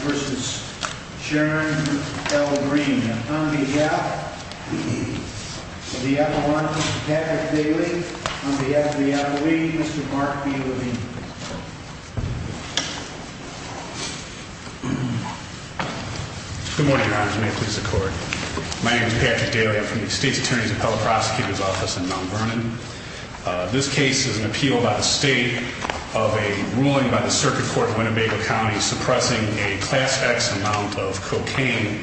v. Sharon L. Green on behalf of the Appalachians, Patrick Daly, on behalf of the Appalachians, Mr. Mark B. Levine. Good morning, Your Honors. May it please the Court. My name is Patrick Daly. I'm from the State's Attorney's Appellate Prosecutor's Office in Mount Vernon. This case is an appeal by the State of a ruling by the Circuit Court of Winnebago County suppressing a Class X amount of cocaine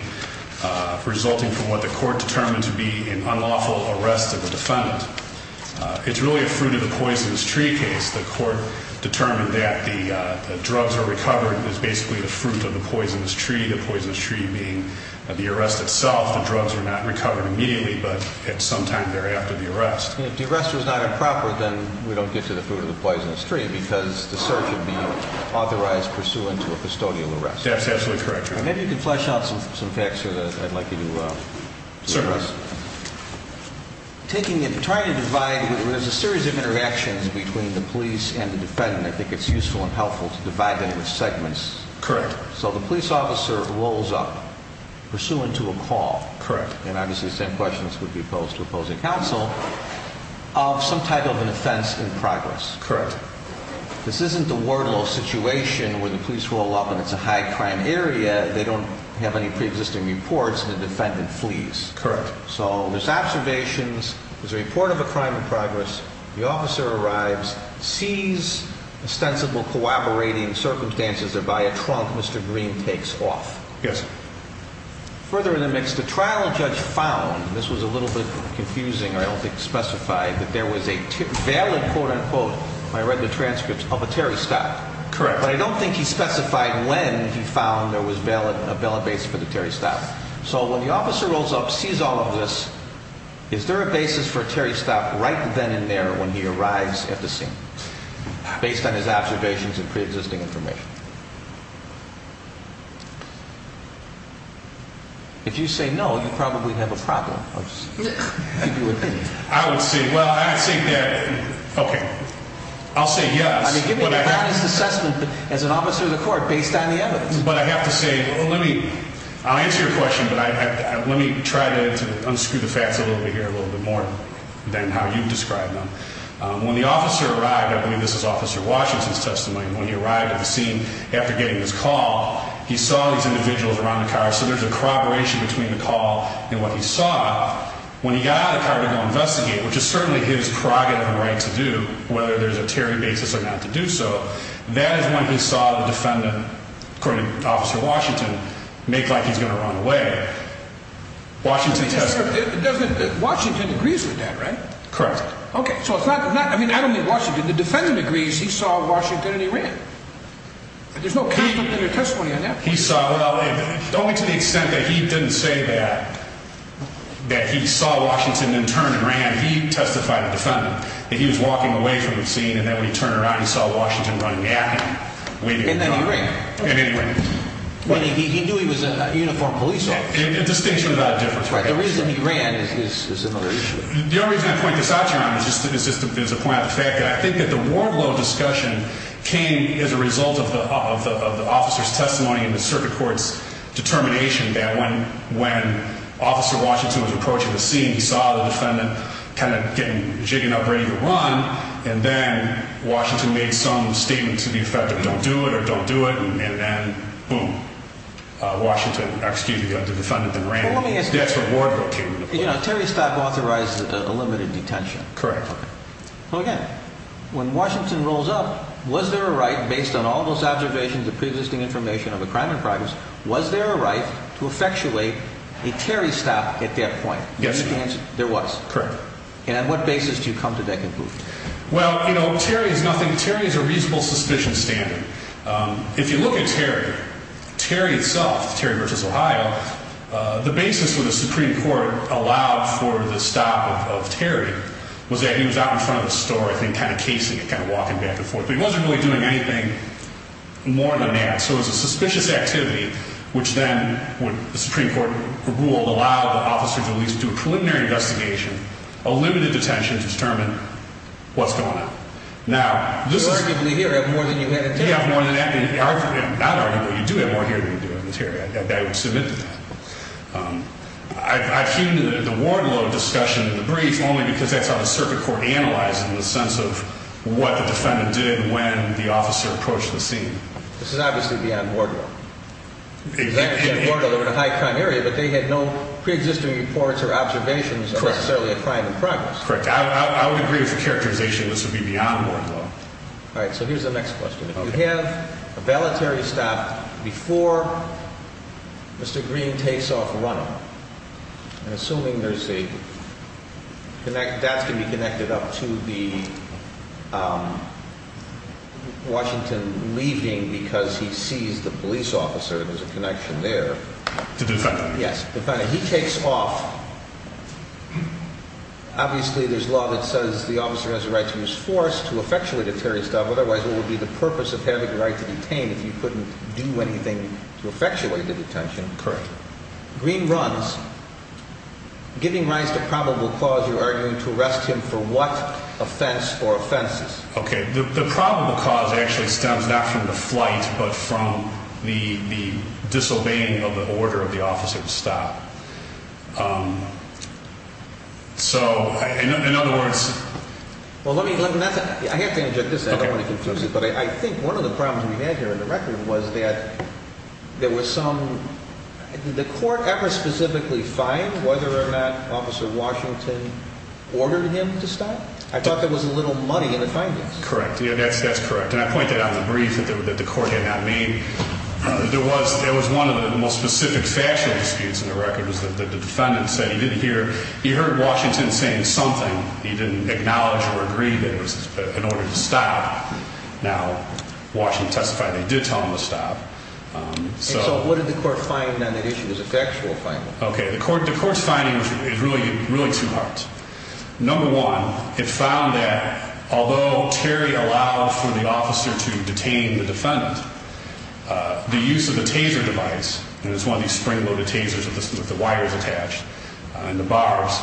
resulting from what the Court determined to be an unlawful arrest of a defendant. It's really a fruit-of-the-poisonous-tree case. The Court determined that the drugs are recovered is basically the fruit of the poisonous tree, the poisonous tree being the arrest itself. The drugs are not recovered immediately, but at some time thereafter, the arrest. If the arrest was not improper, then we don't get to the fruit of the poisonous tree because the search would be authorized pursuant to a custodial arrest. That's absolutely correct, Your Honor. Maybe you can flesh out some facts here that I'd like you to address. Certainly. There's a series of interactions between the police and the defendant. I think it's useful and helpful to divide them into segments. Correct. So the police officer rolls up pursuant to a call. Correct. And obviously the same questions would be posed to opposing counsel of some type of an offense in progress. Correct. This isn't the Wardlow situation where the police roll up and it's a high-crime area. They don't have any pre-existing reports and the defendant flees. Correct. So there's observations, there's a report of a crime in progress, the officer arrives, sees ostensible corroborating circumstances, and by a trunk, Mr. Green takes off. Yes. Further in the mix, the trial judge found, this was a little bit confusing, I don't think specified, that there was a valid, quote-unquote, when I read the transcripts, of a Terry Stout. Correct. But I don't think he specified when he found there was a valid base for the Terry Stout. So when the officer rolls up, sees all of this, is there a basis for Terry Stout right then and there when he arrives at the scene, based on his observations and pre-existing information? If you say no, you probably have a problem. I'll just give you an opinion. I would say, well, I think that, okay, I'll say yes. I mean, give me a honest assessment as an officer of the court based on the evidence. But I have to say, let me, I'll answer your question, but let me try to unscrew the facts a little bit here, a little bit more than how you've described them. When the officer arrived, I believe this is Officer Washington's testimony, when he arrived at the scene after getting his call, he saw these individuals around the car, so there's a corroboration between the call and what he saw. When he got out of the car to go investigate, which is certainly his prerogative and right to do, whether there's a Terry basis or not to do so, that is when he saw the defendant, according to Officer Washington, make like he's going to run away. Washington agrees with that, right? Correct. Okay, so it's not, I mean, I don't mean Washington, the defendant agrees he saw Washington and he ran. There's no conflict in your testimony on that point. He saw, well, only to the extent that he didn't say that, that he saw Washington and turned and ran, he testified to the defendant that he was walking away from the scene and that when he turned around, he saw Washington running at him. And then he ran. And then he ran. He knew he was a uniformed police officer. A distinction without a difference. Right, the reason he ran is another issue. The only reason I point this out to you, Ron, is just to point out the fact that I think that the Wardlow discussion came as a result of the officer's testimony and the circuit court's determination that when Officer Washington was approaching the scene, he saw the defendant kind of getting jigging up ready to run. And then Washington made some statement to the effect of don't do it or don't do it. And then, boom, Washington, excuse me, the defendant then ran. That's what Wardlow came to. You know, a Terry stop authorizes a limited detention. Correct. So, again, when Washington rolls up, was there a right, based on all those observations of preexisting information of a crime in progress, was there a right to effectuate a Terry stop at that point? Yes, there was. Correct. And on what basis do you come to that conclusion? Well, you know, Terry is nothing. Terry is a reasonable suspicion standard. If you look at Terry, Terry itself, Terry versus Ohio, the basis for the Supreme Court allowed for the stop of Terry was that he was out in front of the store, I think, kind of casing it, kind of walking back and forth. But he wasn't really doing anything more than that. So it was a suspicious activity, which then would, the Supreme Court ruled, allow the officer to at least do a preliminary investigation, a limited detention to determine what's going on. Now, this is… You arguably here have more than you had in Terry. You have more than that. Not arguably. You do have more here than you do in Terry. I would submit to that. I've heeded the Wardlow discussion in the brief only because that's how the circuit court analyzed it in the sense of what the defendant did when the officer approached the scene. This is obviously beyond Wardlow. Exactly. They were in a high-crime area, but they had no preexisting reports or observations of necessarily a crime in progress. Correct. I would agree with the characterization this would be beyond Wardlow. All right. So here's the next question. If you have a ballotary stop before Mr. Green takes off running, and assuming there's a connect, that's going to be connected up to the Washington leaving because he sees the police officer, there's a connection there. The defendant. Yes, the defendant. He takes off. Obviously, there's law that says the officer has a right to use force to effectuate a Terry stop. Otherwise, what would be the purpose of having the right to detain if you couldn't do anything to effectuate the detention? Correct. Green runs. Giving rise to probable cause, you're arguing to arrest him for what offense or offenses? Okay. The probable cause actually stems not from the flight, but from the disobeying of the order of the officer to stop. So, in other words. Well, let me – I have to interject this. I don't want to confuse it. But I think one of the problems we had here in the record was that there was some – did the court ever specifically find whether or not Officer Washington ordered him to stop? I thought there was a little money in the findings. Correct. That's correct. And I point that out in the brief that the court had not made. There was one of the most specific factual disputes in the record was that the defendant said he didn't hear – he heard Washington saying something. He didn't acknowledge or agree that it was in order to stop. Now, Washington testified they did tell him to stop. And so what did the court find on that issue? It was a factual finding. Okay. The court's finding is really two parts. Number one, it found that although Terry allowed for the officer to detain the defendant, the use of the taser device, and it's one of these spring-loaded tasers with the wires attached and the bars,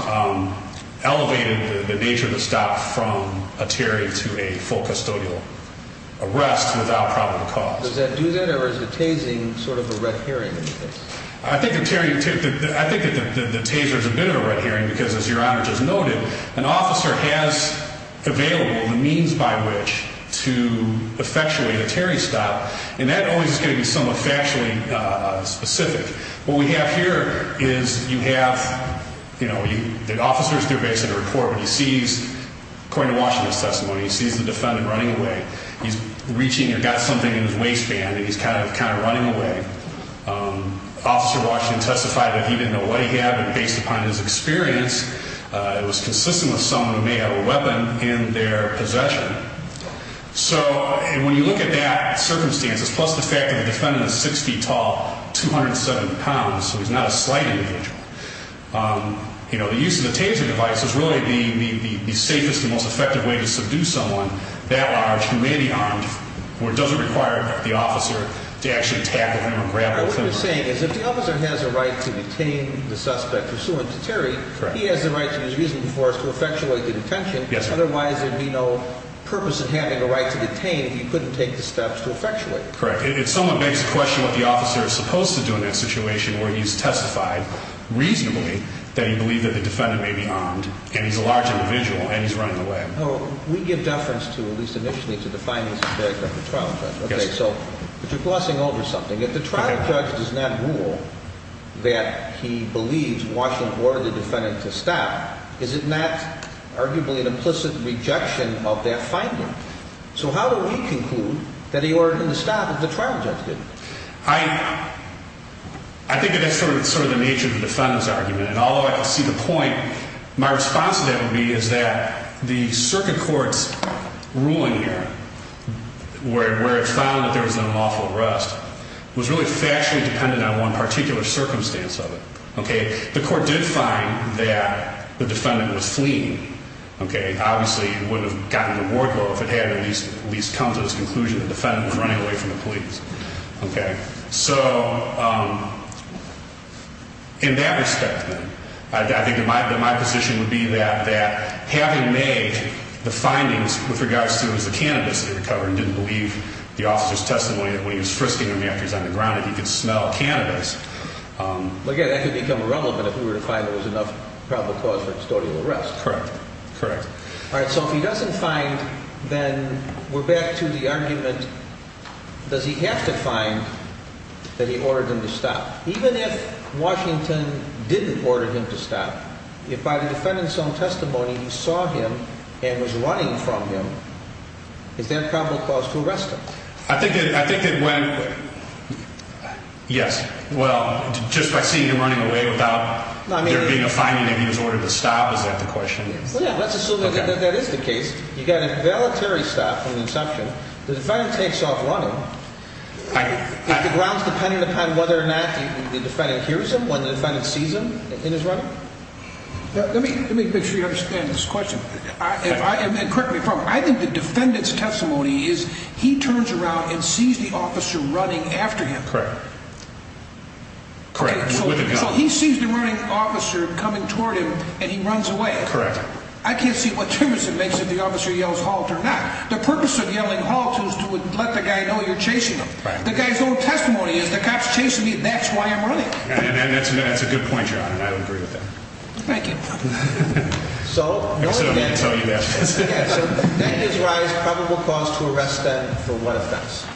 elevated the nature of the stop from a Terry to a full custodial arrest without probable cause. Does that do that? Or is the tasing sort of a red herring in this? I think that Terry – I think that the taser is a bit of a red herring because, as Your Honor just noted, an officer has available the means by which to effectually let Terry stop. And that always is going to be somewhat factually specific. What we have here is you have, you know, the officer's there basically to record what he sees. According to Washington's testimony, he sees the defendant running away. He's reaching and got something in his waistband, and he's kind of running away. Officer Washington testified that he didn't know what he had, but based upon his experience, it was consistent with someone who may have a weapon in their possession. So when you look at that circumstances, plus the fact that the defendant is 6 feet tall, 207 pounds, so he's not a slight individual, you know, the use of the taser device is really the safest and most effective way to subdue someone that large who may be armed where it doesn't require the officer to actually tackle him or grab him. What you're saying is if the officer has a right to detain the suspect pursuant to Terry, he has the right to use reasonable force to effectuate the detention. Otherwise, there'd be no purpose in having a right to detain if he couldn't take the steps to effectuate. Correct. It somewhat begs the question what the officer is supposed to do in that situation where he's testified reasonably that he believed that the defendant may be armed, and he's a large individual, and he's running away. We give deference to, at least initially, to the findings of the trial judge. But you're glossing over something. If the trial judge does not rule that he believes Washington ordered the defendant to stop, is it not arguably an implicit rejection of that finding? So how do we conclude that he ordered him to stop if the trial judge didn't? I think that's sort of the nature of the defendant's argument, and although I don't see the point, my response to that would be is that the circuit court's ruling here, where it found that there was an unlawful arrest, was really factually dependent on one particular circumstance of it. Okay? The court did find that the defendant was fleeing. Okay? Obviously, it wouldn't have gotten the ward over if it hadn't at least come to this conclusion that the defendant was running away from the police. Okay? So in that respect, then, I think that my position would be that having made the findings with regards to the cannabis that he recovered and didn't believe the officer's testimony that when he was frisking him after he was on the ground that he could smell cannabis. Well, again, that could become irrelevant if we were to find there was enough probable cause for custodial arrest. Correct. Correct. All right, so if he doesn't find, then we're back to the argument, does he have to find that he ordered him to stop? Even if Washington didn't order him to stop, if by the defendant's own testimony he saw him and was running from him, is there a probable cause to arrest him? I think it went, yes. Well, just by seeing him running away without there being a finding that he was ordered to stop, is that the question? Well, yeah, let's assume that that is the case. You've got a voluntary stop from the inception. The defendant takes off running. If the ground's dependent upon whether or not the defendant hears him when the defendant sees him in his running? Let me make sure you understand this question. And correct me if I'm wrong. I think the defendant's testimony is he turns around and sees the officer running after him. Correct. Okay, so he sees the running officer coming toward him and he runs away. Correct. I can't see what difference it makes if the officer yells halt or not. The purpose of yelling halt is to let the guy know you're chasing him. The guy's own testimony is the cop's chasing me, that's why I'm running. And that's a good point, John, and I agree with that. Thank you. So, knowing that, that gives rise to a probable cause to arrest them for what offense?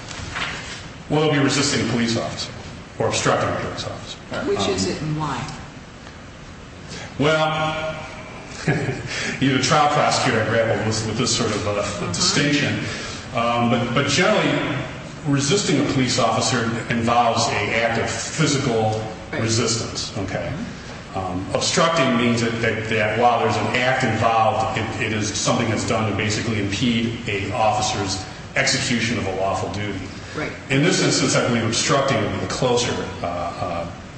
Well, it would be resisting a police officer or obstructing a police officer. Which is it and why? Well, as a trial prosecutor, I grapple with this sort of distinction. But generally resisting a police officer involves an act of physical resistance. Okay. Obstructing means that while there's an act involved, it is something that's done to basically impede an officer's execution of a lawful duty. Right. In this instance, I believe obstructing would be the closer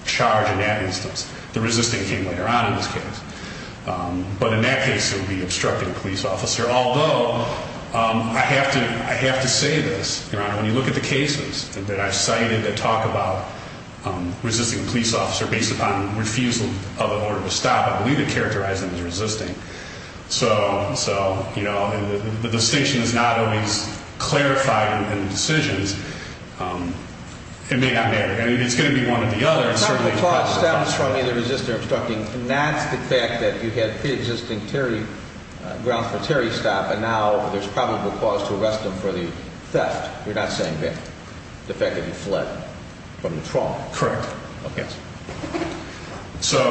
charge in that instance. The resisting came later on in this case. But in that case, it would be obstructing a police officer, although I have to say this, Your Honor, when you look at the cases that I've cited that talk about resisting a police officer based upon refusal of an order to stop, I believe it characterized them as resisting. So, you know, the distinction is not always clarified in decisions. It may not matter. It's going to be one or the other. The probable cause stems from either resisting or obstructing. And that's the fact that you had preexisting grounds for a terry stop, and now there's probable cause to arrest them for the theft. You're not saying theft. The fact that you fled from the trial. Correct. Okay. So.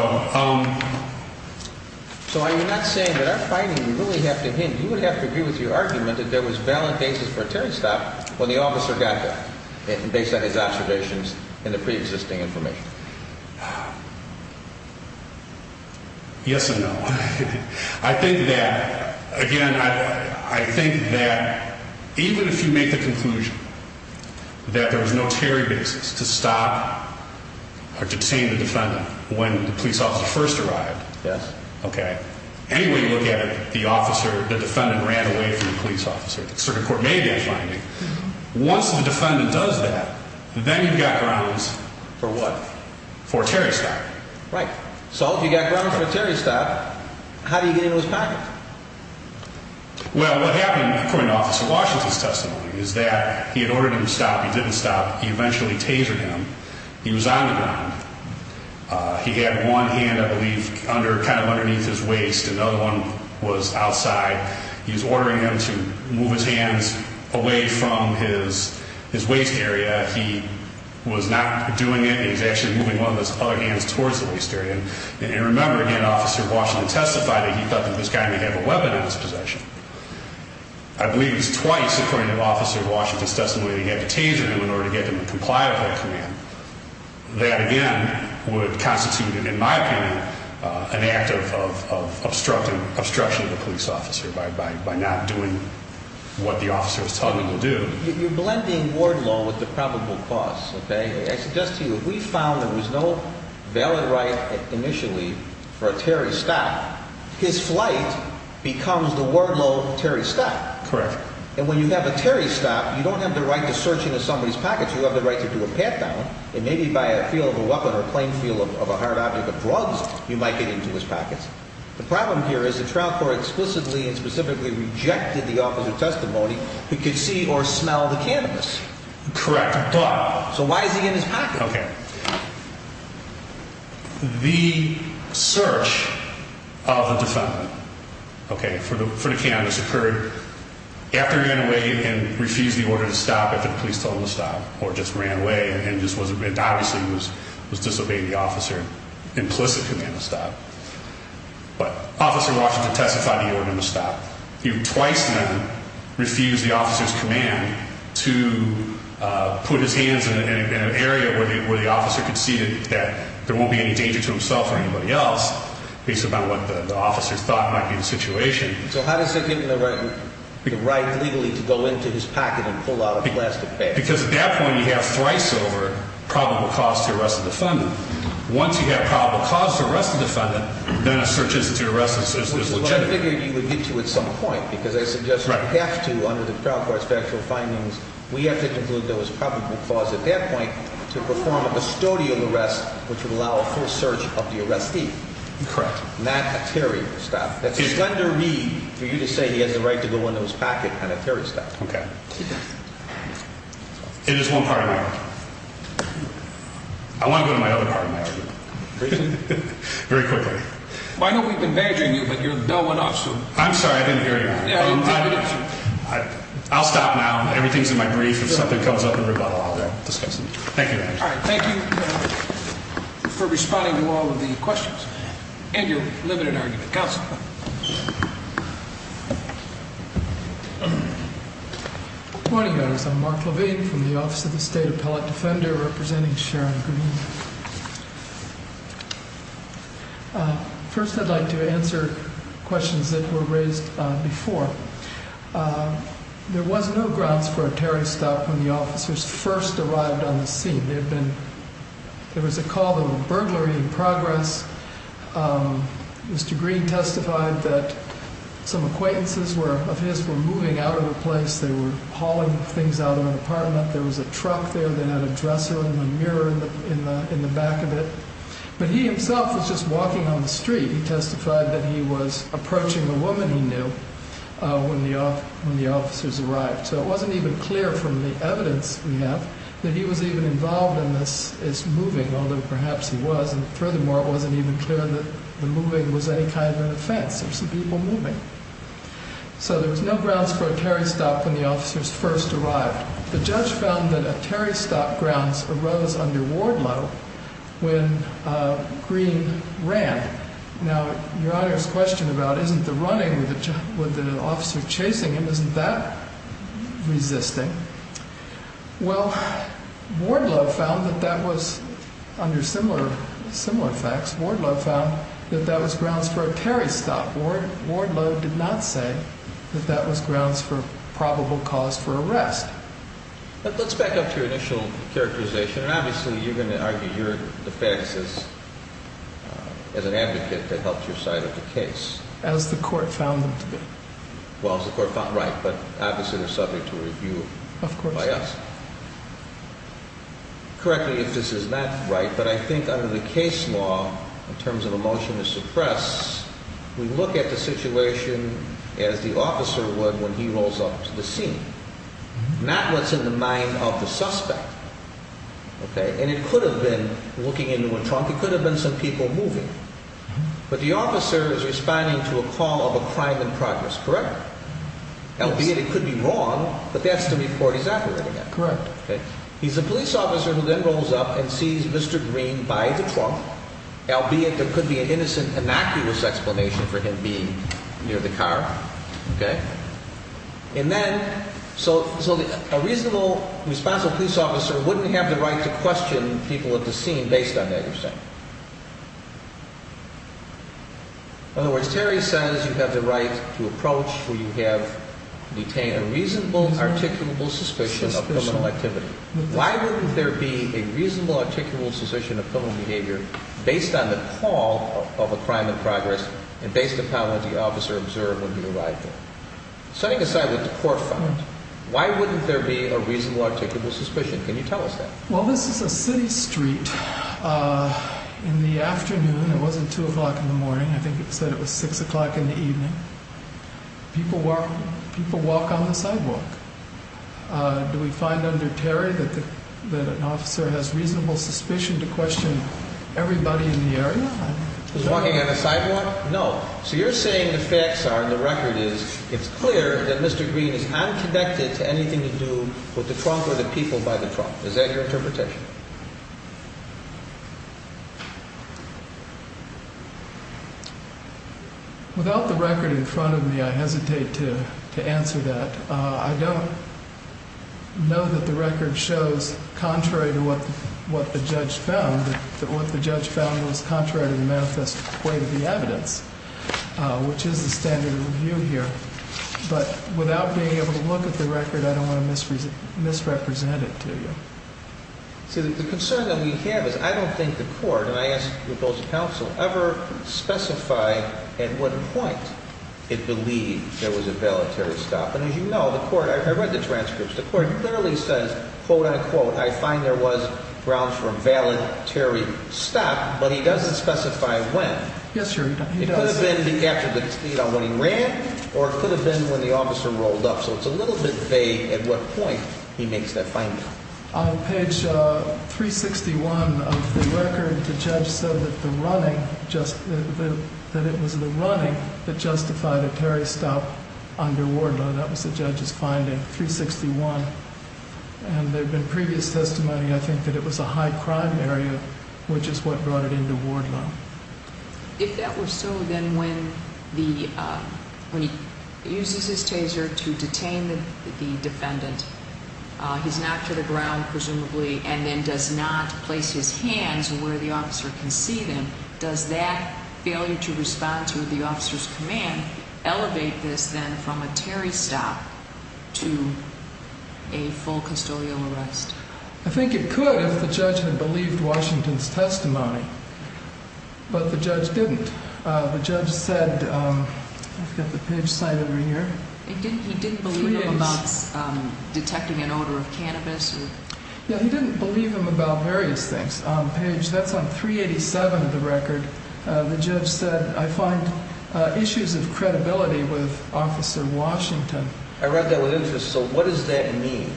So I'm not saying that I'm fighting. You really have to hint. You would have to agree with your argument that there was valid basis for a terry stop when the officer got there based on his observations and the preexisting information. Yes and no. I think that, again, I think that even if you make the conclusion that there was no terry basis to stop or detain the defendant when the police officer first arrived. Yes. Okay. Anyway you look at it, the officer, the defendant ran away from the police officer. The circuit court made that finding. Once the defendant does that, then you've got grounds. For what? For a terry stop. Right. So if you've got grounds for a terry stop, how do you get into his pocket? Well, what happened, according to Officer Washington's testimony, is that he had ordered him to stop. He didn't stop. He eventually tasered him. He was on the ground. He had one hand, I believe, under, kind of underneath his waist. Another one was outside. He was ordering him to move his hands away from his waist area. He was not doing it. He was actually moving one of his other hands towards the waist area. And remember, again, Officer Washington testified that he thought that this guy may have a weapon in his possession. I believe it was twice, according to Officer Washington's testimony, that he had to taser him in order to get him to comply with that command. That, again, would constitute, in my opinion, an act of obstruction of the police officer by not doing what the officer was telling him to do. You're blending ward law with the probable cause. Okay? I suggest to you if we found there was no valid right initially for a tarry stop, his flight becomes the ward law tarry stop. Correct. And when you have a tarry stop, you don't have the right to search into somebody's pockets. You have the right to do a pat-down. And maybe by a feel of a weapon or plain feel of a hard object of drugs, you might get into his pockets. The problem here is the trial court explicitly and specifically rejected the officer's testimony who could see or smell the cannabis. Correct. So why is he in his pocket? Okay. The search of the defendant, okay, for the cannabis occurred after he ran away and refused the order to stop after the police told him to stop or just ran away and obviously was disobeying the officer's implicit command to stop. But Officer Washington testified the order to stop. He twice then refused the officer's command to put his hands in an area where the officer could see that there won't be any danger to himself or anybody else, based upon what the officer thought might be the situation. So how does he get the right legally to go into his pocket and pull out a plastic bag? Because at that point you have thrice over probable cause to arrest the defendant. Once you have probable cause to arrest the defendant, then a search is legitimate. Well, I figured you would get to it at some point because I suggest you have to, under the trial court's factual findings, we have to conclude there was probable cause at that point to perform a custodial arrest which would allow a full search of the arrestee. Correct. Not a terry stop. It's under me for you to say he has the right to go into his pocket and a terry stop. Okay. It is one part of my argument. I want to go to my other part of my argument. Very quickly. I know we've been badgering you, but your bell went off soon. I'm sorry. I didn't hear you. I'll stop now. Everything's in my brief. If something comes up in rebuttal, I'll discuss it. Thank you, Your Honor. All right. Thank you for responding to all of the questions and your limited argument. Counsel. Good morning, guys. I'm Mark Levine from the Office of the State Appellate Defender, representing Sharon Green. First, I'd like to answer questions that were raised before. There was no grounds for a terry stop when the officers first arrived on the scene. There was a call of a burglary in progress. Mr. Green testified that some acquaintances of his were moving out of the place. They were hauling things out of an apartment. There was a truck there. They had a dresser and a mirror in the back of it. But he himself was just walking on the street. He testified that he was approaching a woman he knew when the officers arrived. So it wasn't even clear from the evidence we have that he was even involved in this moving, although perhaps he was. And furthermore, it wasn't even clear that the moving was any kind of an offense. There were some people moving. So there was no grounds for a terry stop when the officers first arrived. The judge found that a terry stop grounds arose under Wardlow when Green ran. Now, Your Honor's question about isn't the running with an officer chasing him, isn't that resisting? Well, Wardlow found that that was, under similar facts, Wardlow found that that was grounds for a terry stop. Wardlow did not say that that was grounds for probable cause for arrest. Let's back up to your initial characterization. And obviously you're going to argue your defense as an advocate that helps your side of the case. As the court found them to be. Well, as the court found, right, but obviously they're subject to review by us. Of course. Correct me if this is not right, but I think under the case law, in terms of a motion to suppress, we look at the situation as the officer would when he rolls up to the scene. Not what's in the mind of the suspect. And it could have been looking into a trunk. It could have been some people moving. But the officer is responding to a call of a crime in progress, correct? Albeit it could be wrong, but that's the report he's operating on. Correct. He's a police officer who then rolls up and sees Mr. Green by the trunk. Albeit there could be an innocent, innocuous explanation for him being near the car. Okay? And then, so a reasonable, responsible police officer wouldn't have the right to question people at the scene based on that you're saying. In other words, Terry says you have the right to approach where you have detained a reasonable, articulable suspicion of criminal activity. Why wouldn't there be a reasonable, articulable suspicion of criminal behavior based on the call of a crime in progress and based upon what the officer observed when he arrived there? Setting aside what the court finds, why wouldn't there be a reasonable, articulable suspicion? Can you tell us that? Well, this is a city street. In the afternoon, it wasn't 2 o'clock in the morning. I think it said it was 6 o'clock in the evening. People walk on the sidewalk. Do we find under Terry that an officer has reasonable suspicion to question everybody in the area? He's walking on the sidewalk? No. So you're saying the facts are, the record is, it's clear that Mr. Green is unconnected to anything to do with the trunk or the people by the trunk. Is that your interpretation? Without the record in front of me, I hesitate to answer that. I don't know that the record shows, contrary to what the judge found, that what the judge found was contrary to the manifest way of the evidence, which is the standard of review here. But without being able to look at the record, I don't want to misrepresent it to you. See, the concern that we have is I don't think the court, and I ask that both counsel, ever specify at what point it believed there was a valetory stop. And as you know, the court, I read the transcripts, the court clearly says, quote, unquote, I find there was grounds for a valetory stop, but he doesn't specify when. It could have been after the, you know, when he ran, or it could have been when the officer rolled up. So it's a little bit vague at what point he makes that finding. On page 361 of the record, the judge said that the running, that it was the running that justified a carry stop under ward law. That was the judge's finding, 361. And there have been previous testimony, I think, that it was a high crime area, which is what brought it into ward law. If that were so, then when the, when he uses his taser to detain the defendant, he's knocked to the ground, presumably, and then does not place his hands where the officer can see them, does that failure to respond to the officer's command elevate this then from a carry stop to a full custodial arrest? I think it could if the judge had believed Washington's testimony, but the judge didn't. The judge said, I've got the page cited over here. He didn't believe him about detecting an odor of cannabis? Yeah, he didn't believe him about various things. On page, that's on 387 of the record, the judge said, I find issues of credibility with Officer Washington. I read that with interest, so what does that mean?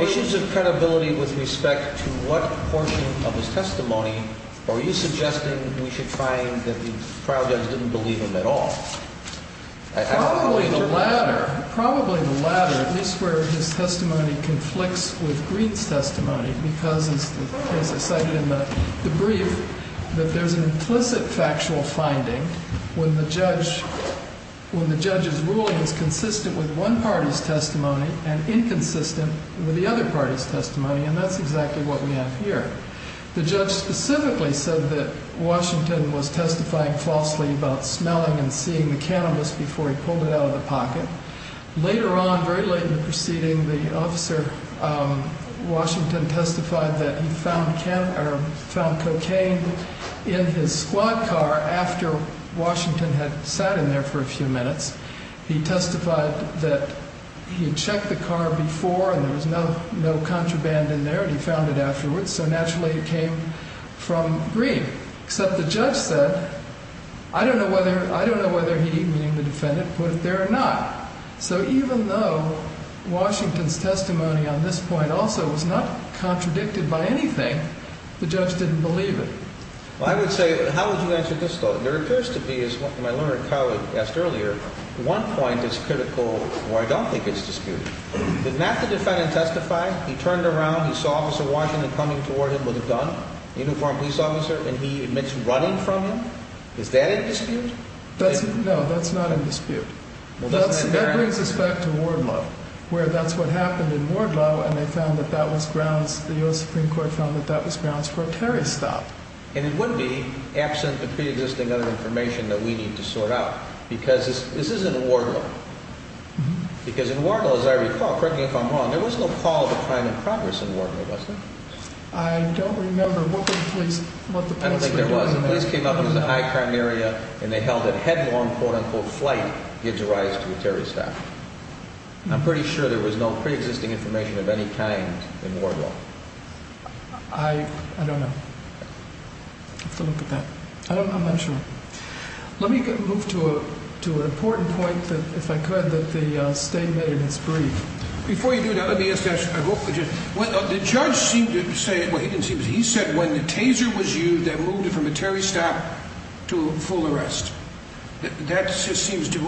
Issues of credibility with respect to what portion of his testimony are you suggesting we should find that the trial judge didn't believe him at all? Probably the latter. Probably the latter, at least where his testimony conflicts with Greene's testimony, because as I cited in the brief, that there's an implicit factual finding when the judge's ruling is consistent with one party's testimony and inconsistent with the other party's testimony, and that's exactly what we have here. The judge specifically said that Washington was testifying falsely about smelling and seeing the cannabis before he pulled it out of the pocket. Later on, very late in the proceeding, the officer, Washington, testified that he found cocaine in his squad car after Washington had sat in there for a few minutes. He testified that he had checked the car before and there was no contraband in there and he found it afterwards, so naturally it came from Greene. Except the judge said, I don't know whether he, meaning the defendant, put it there or not. So even though Washington's testimony on this point also was not contradicted by anything, the judge didn't believe it. Well, I would say, how would you answer this, though? There appears to be, as my learned colleague asked earlier, one point that's critical where I don't think it's disputed. Did not the defendant testify? He turned around, he saw Officer Washington coming toward him with a gun, a uniformed police officer, and he admits running from him? Is that a dispute? No, that's not a dispute. That brings us back to Wardlow, where that's what happened in Wardlow and they found that that was grounds, the U.S. Supreme Court found that that was grounds for a terrorist act. And it would be, absent the preexisting other information that we need to sort out, because this isn't Wardlow. Because in Wardlow, as I recall, correct me if I'm wrong, there was no call to crime in progress in Wardlow, was there? I don't remember. What were the police, what the police were doing there? I don't think there was. The police came up to the high crime area and they held it headlong, quote-unquote, flight gives rise to a terrorist act. I'm pretty sure there was no preexisting information of any kind in Wardlow. I don't know. I'll have to look at that. I'm not sure. Let me move to an important point, if I could, that the state made in its brief. Before you do that, let me ask a question. The judge seemed to say, well, he didn't seem to, he said when the taser was used that moved it from a Terry stop to a full arrest. That just seems to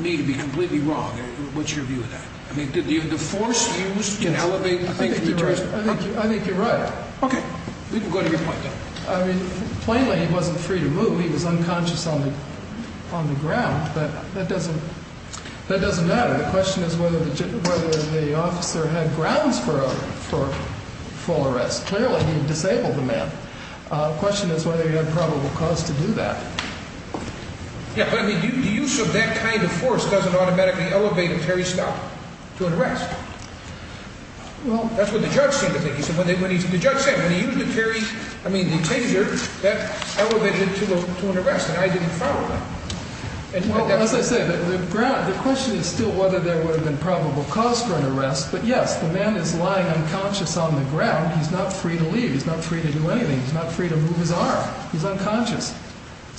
me to be completely wrong. What's your view of that? I mean, did the force used to elevate the thing from the terrorist? I think you're right. Okay. We can go to your point, then. I mean, plainly, he wasn't free to move. He was unconscious on the ground. That doesn't matter. The question is whether the officer had grounds for a full arrest. Clearly, he had disabled the man. The question is whether he had probable cause to do that. Yeah, but I mean, the use of that kind of force doesn't automatically elevate a Terry stop to an arrest. Well, that's what the judge seemed to think. The judge said when he used the taser, that elevated it to an arrest, and I didn't follow that. Well, as I say, the question is still whether there would have been probable cause for an arrest. But, yes, the man is lying unconscious on the ground. He's not free to leave. He's not free to do anything. He's not free to move his arm. He's unconscious.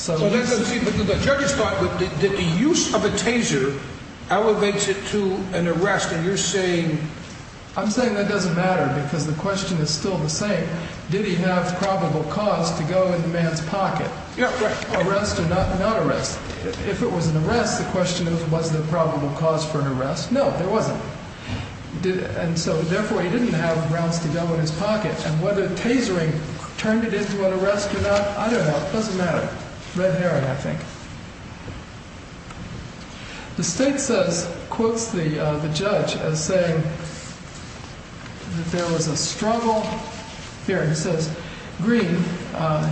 Well, the judge thought that the use of a taser elevates it to an arrest, and you're saying... I'm saying that doesn't matter because the question is still the same. Did he have probable cause to go in the man's pocket? Yeah, right. If it was an arrest, the question is was there probable cause for an arrest? No, there wasn't. And so, therefore, he didn't have grounds to go in his pocket, and whether tasering turned it into an arrest or not, I don't know. It doesn't matter. Red herring, I think. The state says, quotes the judge as saying that there was a struggle. Here, he says, green,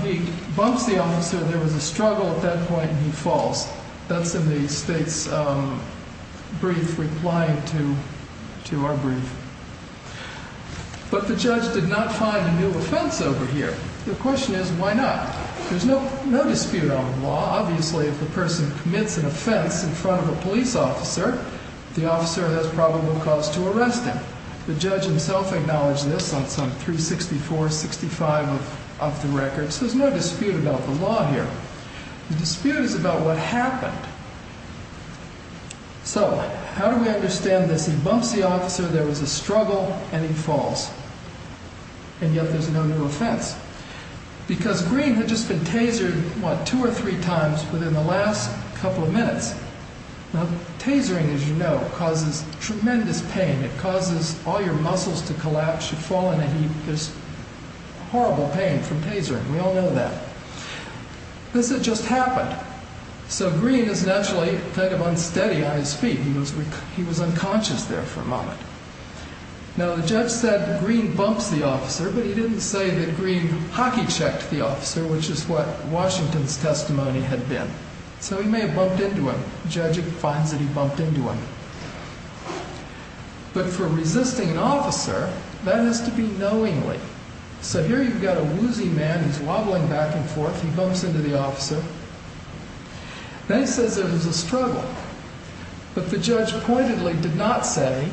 he bumps the officer, there was a struggle at that point, and he falls. That's in the state's brief replying to our brief. But the judge did not find a new offense over here. The question is, why not? There's no dispute on the law. Obviously, if the person commits an offense in front of a police officer, the officer has probable cause to arrest him. The judge himself acknowledged this on 364-65 of the records. There's no dispute about the law here. The dispute is about what happened. So, how do we understand this? He bumps the officer, there was a struggle, and he falls. And yet, there's no new offense. Because green had just been tasered, what, two or three times within the last couple of minutes. Now, tasering, as you know, causes tremendous pain. It causes all your muscles to collapse. You fall in a heap. There's horrible pain from tasering. We all know that. This had just happened. So, green is naturally kind of unsteady on his feet. He was unconscious there for a moment. Now, the judge said green bumps the officer, but he didn't say that green hockey checked the officer, which is what Washington's testimony had been. So, he may have bumped into him. The judge finds that he bumped into him. But for resisting an officer, that has to be knowingly. So, here you've got a woozy man who's wobbling back and forth. He bumps into the officer. Then he says there was a struggle. But the judge pointedly did not say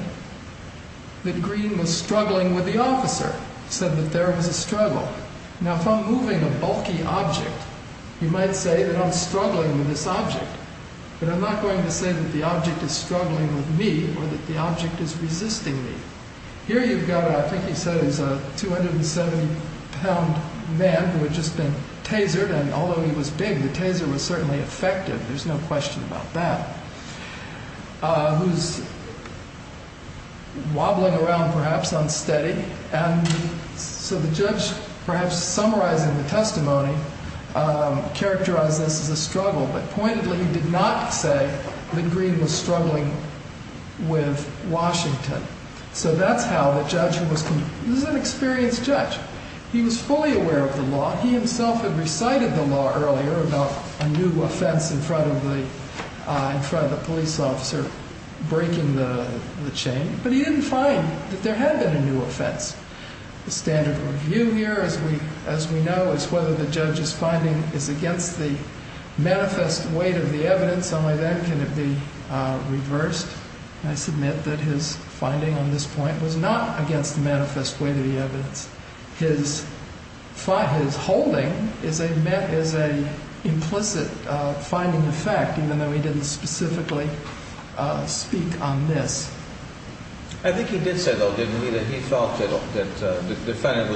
that green was struggling with the officer. He said that there was a struggle. Now, if I'm moving a bulky object, you might say that I'm struggling with this object. But I'm not going to say that the object is struggling with me or that the object is resisting me. Here you've got, I think he said it was a 270-pound man who had just been tasered. And although he was big, the taser was certainly effective. There's no question about that. Who's wobbling around, perhaps, unsteady. And so, the judge, perhaps summarizing the testimony, characterized this as a struggle. But pointedly, he did not say that green was struggling with Washington. So, that's how the judge who was an experienced judge, he was fully aware of the law. He himself had recited the law earlier about a new offense in front of the police officer breaking the chain. But he didn't find that there had been a new offense. The standard review here, as we know, is whether the judge's finding is against the manifest weight of the evidence. Only then can it be reversed. I submit that his finding on this point was not against the manifest weight of the evidence. His holding is an implicit finding of fact, even though he didn't specifically speak on this. I think he did say, though, didn't he, that he felt that the defendant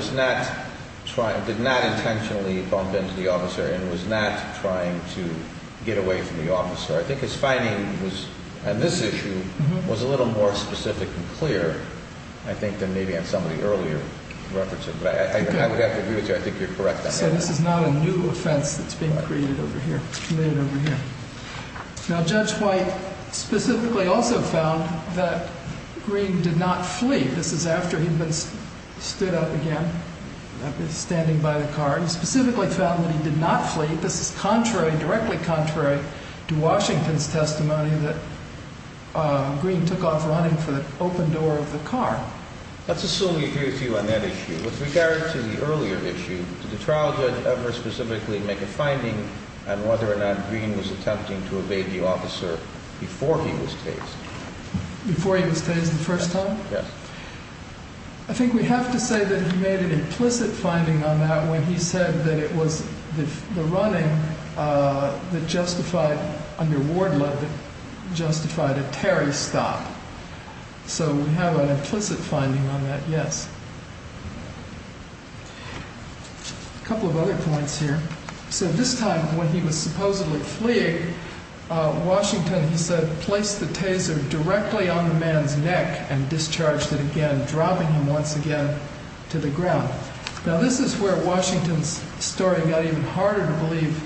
did not intentionally bump into the officer and was not trying to get away from the officer. I think his finding on this issue was a little more specific and clear, I think, than maybe on some of the earlier records. But I would have to agree with you. I think you're correct on that. So, this is not a new offense that's being created over here. Now, Judge White specifically also found that Green did not flee. This is after he'd been stood up again, standing by the car. He specifically found that he did not flee. This is contrary, directly contrary, to Washington's testimony that Green took off running for the open door of the car. Let's assume we agree with you on that issue. With regard to the earlier issue, did the trial judge ever specifically make a finding on whether or not Green was attempting to evade the officer before he was tased? Before he was tased the first time? Yes. I think we have to say that he made an implicit finding on that when he said that it was the running that justified, under Wardlaw, that justified a Terry stop. So, we have an implicit finding on that, yes. A couple of other points here. So, this time when he was supposedly fleeing, Washington, he said, placed the taser directly on the man's neck and discharged it again, dropping him once again to the ground. Now, this is where Washington's story got even harder to believe.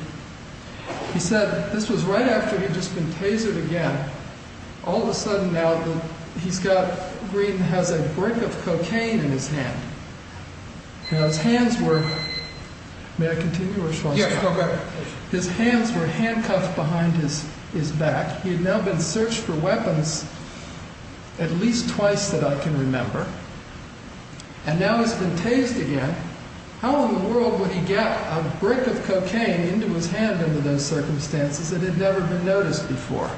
He said, this was right after he had just been tasered again. All of a sudden now, he's got, Green has a brick of cocaine in his hand. Now, his hands were, may I continue or should I stop? Yes, go ahead. His hands were handcuffed behind his back. He had now been searched for weapons at least twice that I can remember. And now he's been tased again. How in the world would he get a brick of cocaine into his hand under those circumstances that had never been noticed before?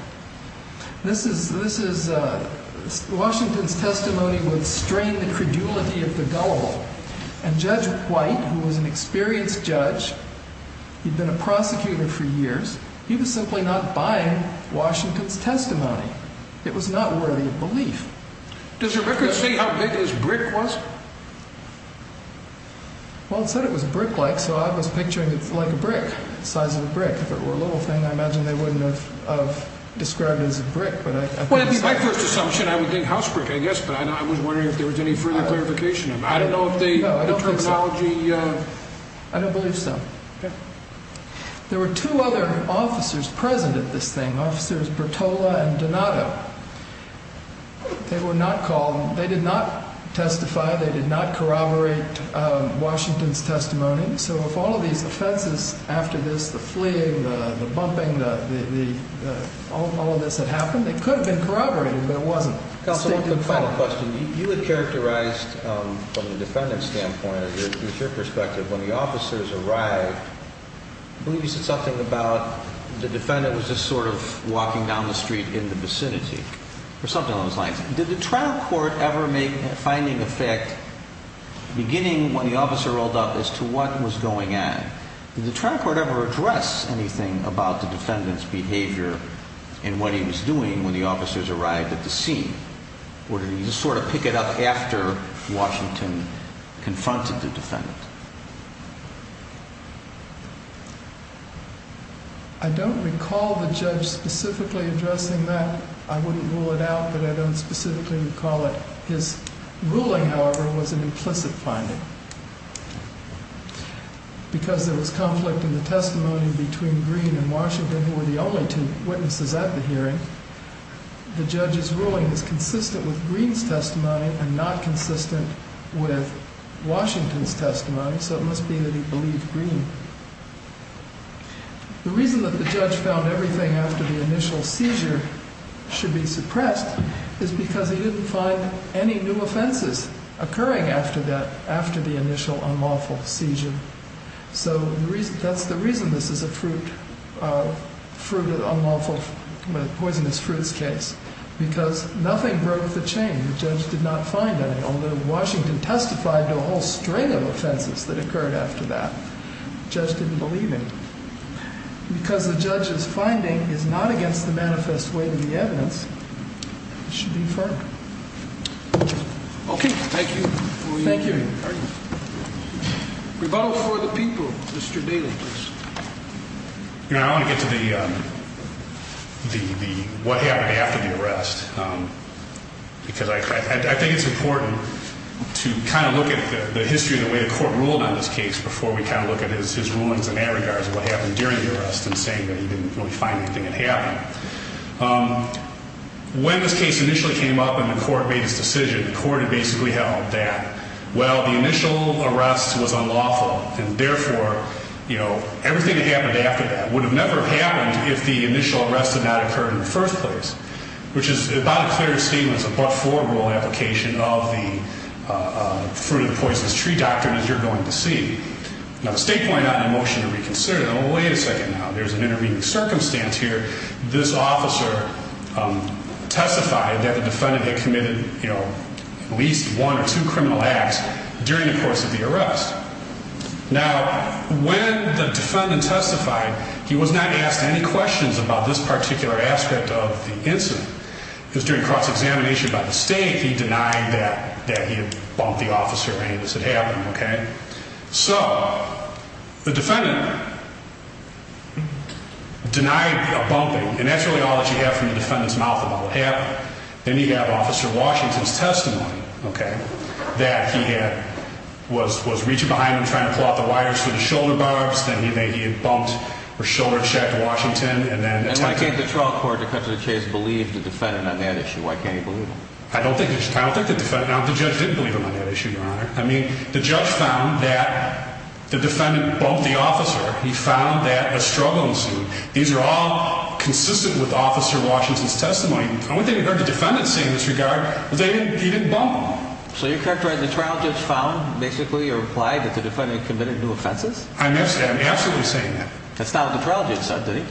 This is, Washington's testimony would strain the credulity of the gullible. And Judge White, who was an experienced judge, he'd been a prosecutor for years, he was simply not buying Washington's testimony. It was not worthy of belief. Does your record say how big this brick was? Well, it said it was brick-like, so I was picturing it like a brick, the size of a brick. If it were a little thing, I imagine they wouldn't have described it as a brick. Well, it'd be my first assumption, I would think house brick, I guess, but I was wondering if there was any further clarification. I don't know if the terminology... I don't believe so. There were two other officers present at this thing, Officers Bertola and Donato. They were not called, they did not testify, they did not corroborate Washington's testimony, so if all of these offenses after this, the fleeing, the bumping, all of this had happened, it could have been corroborated, but it wasn't. Counsel, one final question. You had characterized from the defendant's standpoint, from your perspective, when the officers arrived, I believe you said something about the defendant was just sort of walking down the street in the vicinity, or something along those lines. Did the trial court ever make a finding of fact, beginning when the officer rolled up, as to what was going on? Did the trial court ever address anything about the defendant's behavior and what he was doing when the officers arrived at the scene? Or did he just sort of pick it up after Washington confronted the defendant? I don't recall the judge specifically addressing that. I wouldn't rule it out, but I don't specifically recall it. His ruling, however, was an implicit finding. Because there was conflict in the testimony between Green and Washington, who were the only two witnesses at the hearing, the judge's ruling is consistent with Green's testimony and not consistent with Washington's testimony, so it must be that he believed Green. The reason that the judge found everything after the initial seizure should be suppressed is because he didn't find any new offenses occurring after that, after the initial unlawful seizure. So that's the reason this is a fruit of the unlawful, poisonous fruits case, because nothing broke the chain. The judge did not find any, although Washington testified to a whole string of offenses that occurred after that. The judge didn't believe any. Because the judge's finding is not against the manifest way of the evidence, it should be firm. Okay, thank you. Thank you. Rebuttal for the people. Mr. Daly, please. You know, I want to get to the, what happened after the arrest. Because I think it's important to kind of look at the history of the way the court ruled on this case before we kind of look at his rulings in that regard of what happened during the arrest and saying that he didn't really find anything that happened. When this case initially came up and the court made its decision, the court had basically held that, well, the initial arrest was unlawful and therefore, you know, everything that happened after that would have never happened if the initial arrest had not occurred in the first place, which is about as clear a statement as a but-for rule application of the fruit-of-the-poisonous-tree doctrine, as you're going to see. Now, the state pointed out in the motion to reconsider, well, wait a second now, there's an intervening circumstance here. This officer testified that the defendant had committed, you know, at least one or two criminal acts during the course of the arrest. Now, when the defendant testified, he was not asked any questions about this particular aspect of the incident. He was doing cross-examination by the state. He denied that he had bumped the officer or any of this had happened, okay? So the defendant denied bumping, and that's really all that you have from the defendant's mouth about what happened. Then you have Officer Washington's testimony, okay, that he was reaching behind him trying to pull out the wires for the shoulder barbs, then he had bumped or shoulder checked Washington, and then attacked him. And why can't the trial court, to cut to the chase, believe the defendant on that issue? Why can't you believe him? I don't think the defendant, no, the judge didn't believe him on that issue, Your Honor. I mean, the judge found that the defendant bumped the officer. He found that a struggling suit. These are all consistent with Officer Washington's testimony. The only thing I heard the defendant say in this regard was that he didn't bump him. So you're characterizing the trial judge found basically or implied that the defendant committed new offenses? I'm absolutely saying that. That's not what the trial judge said, did he?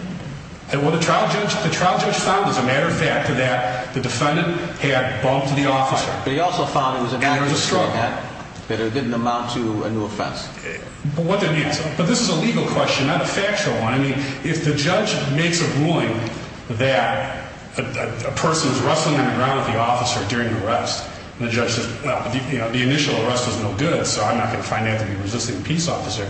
Well, the trial judge found as a matter of fact that the defendant had bumped the officer. But he also found it was a matter of fact that it didn't amount to a new offense. But what did he answer? But this is a legal question, not a factual one. I mean, if the judge makes a ruling that a person is rustling on the ground with the officer during an arrest and the judge says, well, the initial arrest was no good, so I'm not going to find anything resisting a peace officer,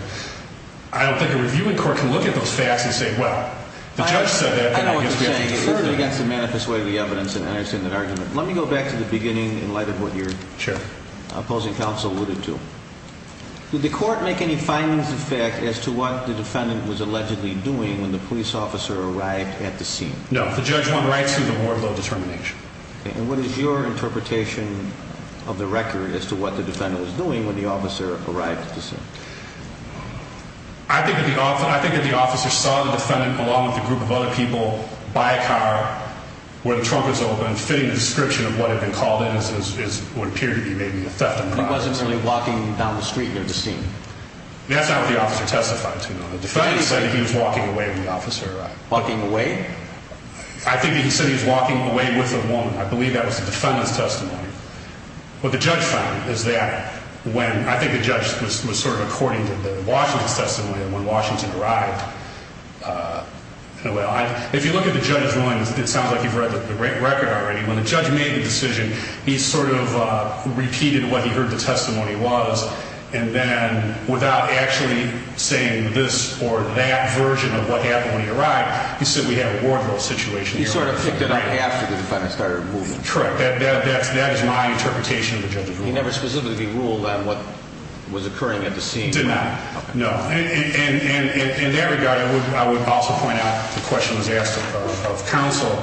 I don't think a reviewing court can look at those facts and say, well, the judge said that. I know what you're saying. It goes against the manifest way of the evidence, and I understand that argument. Let me go back to the beginning in light of what your opposing counsel alluded to. Did the court make any findings of fact as to what the defendant was allegedly doing when the police officer arrived at the scene? No. The judge went right to the more low determination. And what is your interpretation of the record as to what the defendant was doing when the officer arrived at the scene? I think that the officer saw the defendant along with a group of other people by a car where the trunk was open, fitting the description of what had been called in as what appeared to be maybe a theft of property. He wasn't really walking down the street near the scene? That's not what the officer testified to. The defendant said he was walking away with the officer. Walking away? I think he said he was walking away with a woman. I believe that was the defendant's testimony. What the judge found is that when, I think the judge was sort of according to the Washington's testimony when Washington arrived. If you look at the judge's mind, it sounds like you've read the record already. When the judge made the decision, he sort of repeated what he heard the testimony was, and then without actually saying this or that version of what happened when he arrived, he said we had a wardrobe situation. He sort of picked it up after the defendant started moving. Correct. That is my interpretation of the judge's rule. He never specifically ruled on what was occurring at the scene? Did not. No. In that regard, I would also point out the question was asked of counsel.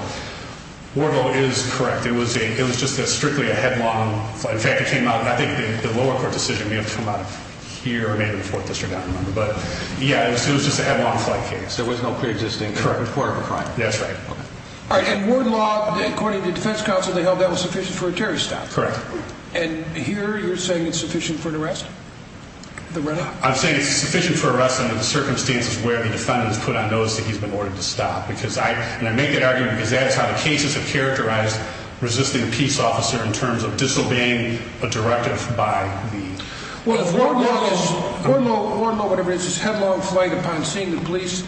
Wardrobe is correct. It was just strictly a headlong. In fact, it came out, and I think the lower court decision may have come out of here or maybe the 4th District, I don't remember. But, yeah, it was just a headlong flight case. There was no preexisting report of a crime. That's right. All right, and Wardrobe, according to defense counsel, they held that was sufficient for a Terry stop. Correct. And here you're saying it's sufficient for an arrest? I'm saying it's sufficient for an arrest under the circumstances where the defendant has put on notice that he's been ordered to stop. And I make that argument because that is how the cases have characterized resisting a peace officer in terms of disobeying a directive by the police. Well, if Wardrobe is, Wardrobe, whatever it is, is headlong flight upon seeing the police,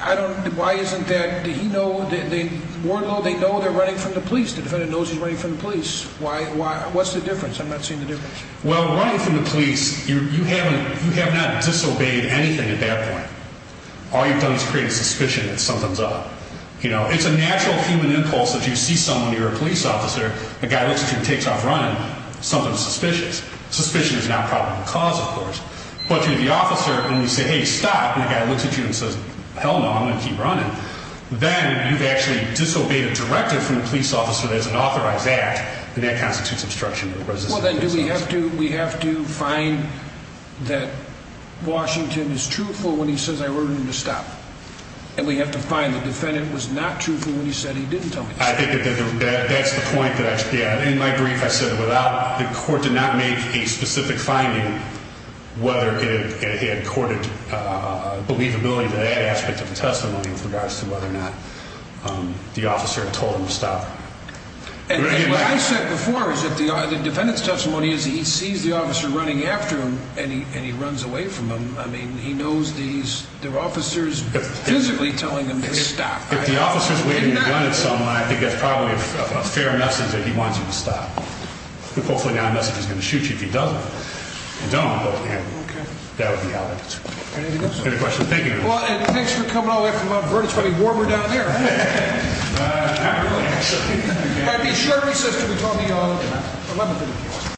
I don't, why isn't that, did he know, did Wardrobe, they know they're running from the police. The defendant knows he's running from the police. What's the difference? I'm not seeing the difference. Well, running from the police, you have not disobeyed anything at that point. All you've done is create a suspicion that something's up. You know, it's a natural human impulse that you see someone, you're a police officer, a guy looks at you and takes off running, something's suspicious. Suspicion is not part of the cause, of course. But if you're the officer and you say, hey, stop, and the guy looks at you and says, hell no, I'm going to keep running, then you've actually disobeyed a directive from the police officer that is an authorized act, and that constitutes obstruction of the resisting peace officer. Well, then do we have to, we have to find that Washington is truthful when he says I ordered him to stop. And we have to find the defendant was not truthful when he said he didn't tell me to stop. I think that that's the point that I, yeah, in my brief I said without, the court did not make a specific finding whether it had courted believability to that aspect of the testimony with regards to whether or not the officer had told him to stop. And what I said before is that the defendant's testimony is that he sees the officer running after him and he runs away from him. I mean, he knows these, they're officers physically telling him to stop. If the officer's waiting to run at someone, I think that's probably a fair message that he wants you to stop. Hopefully not a message that's going to shoot you if he doesn't. If he don't, that would be out of it. Any questions? Well, and thanks for coming all the way from Mount Vernon. It's probably warmer down there. Thank you. Thank you. Thank you. Thank you.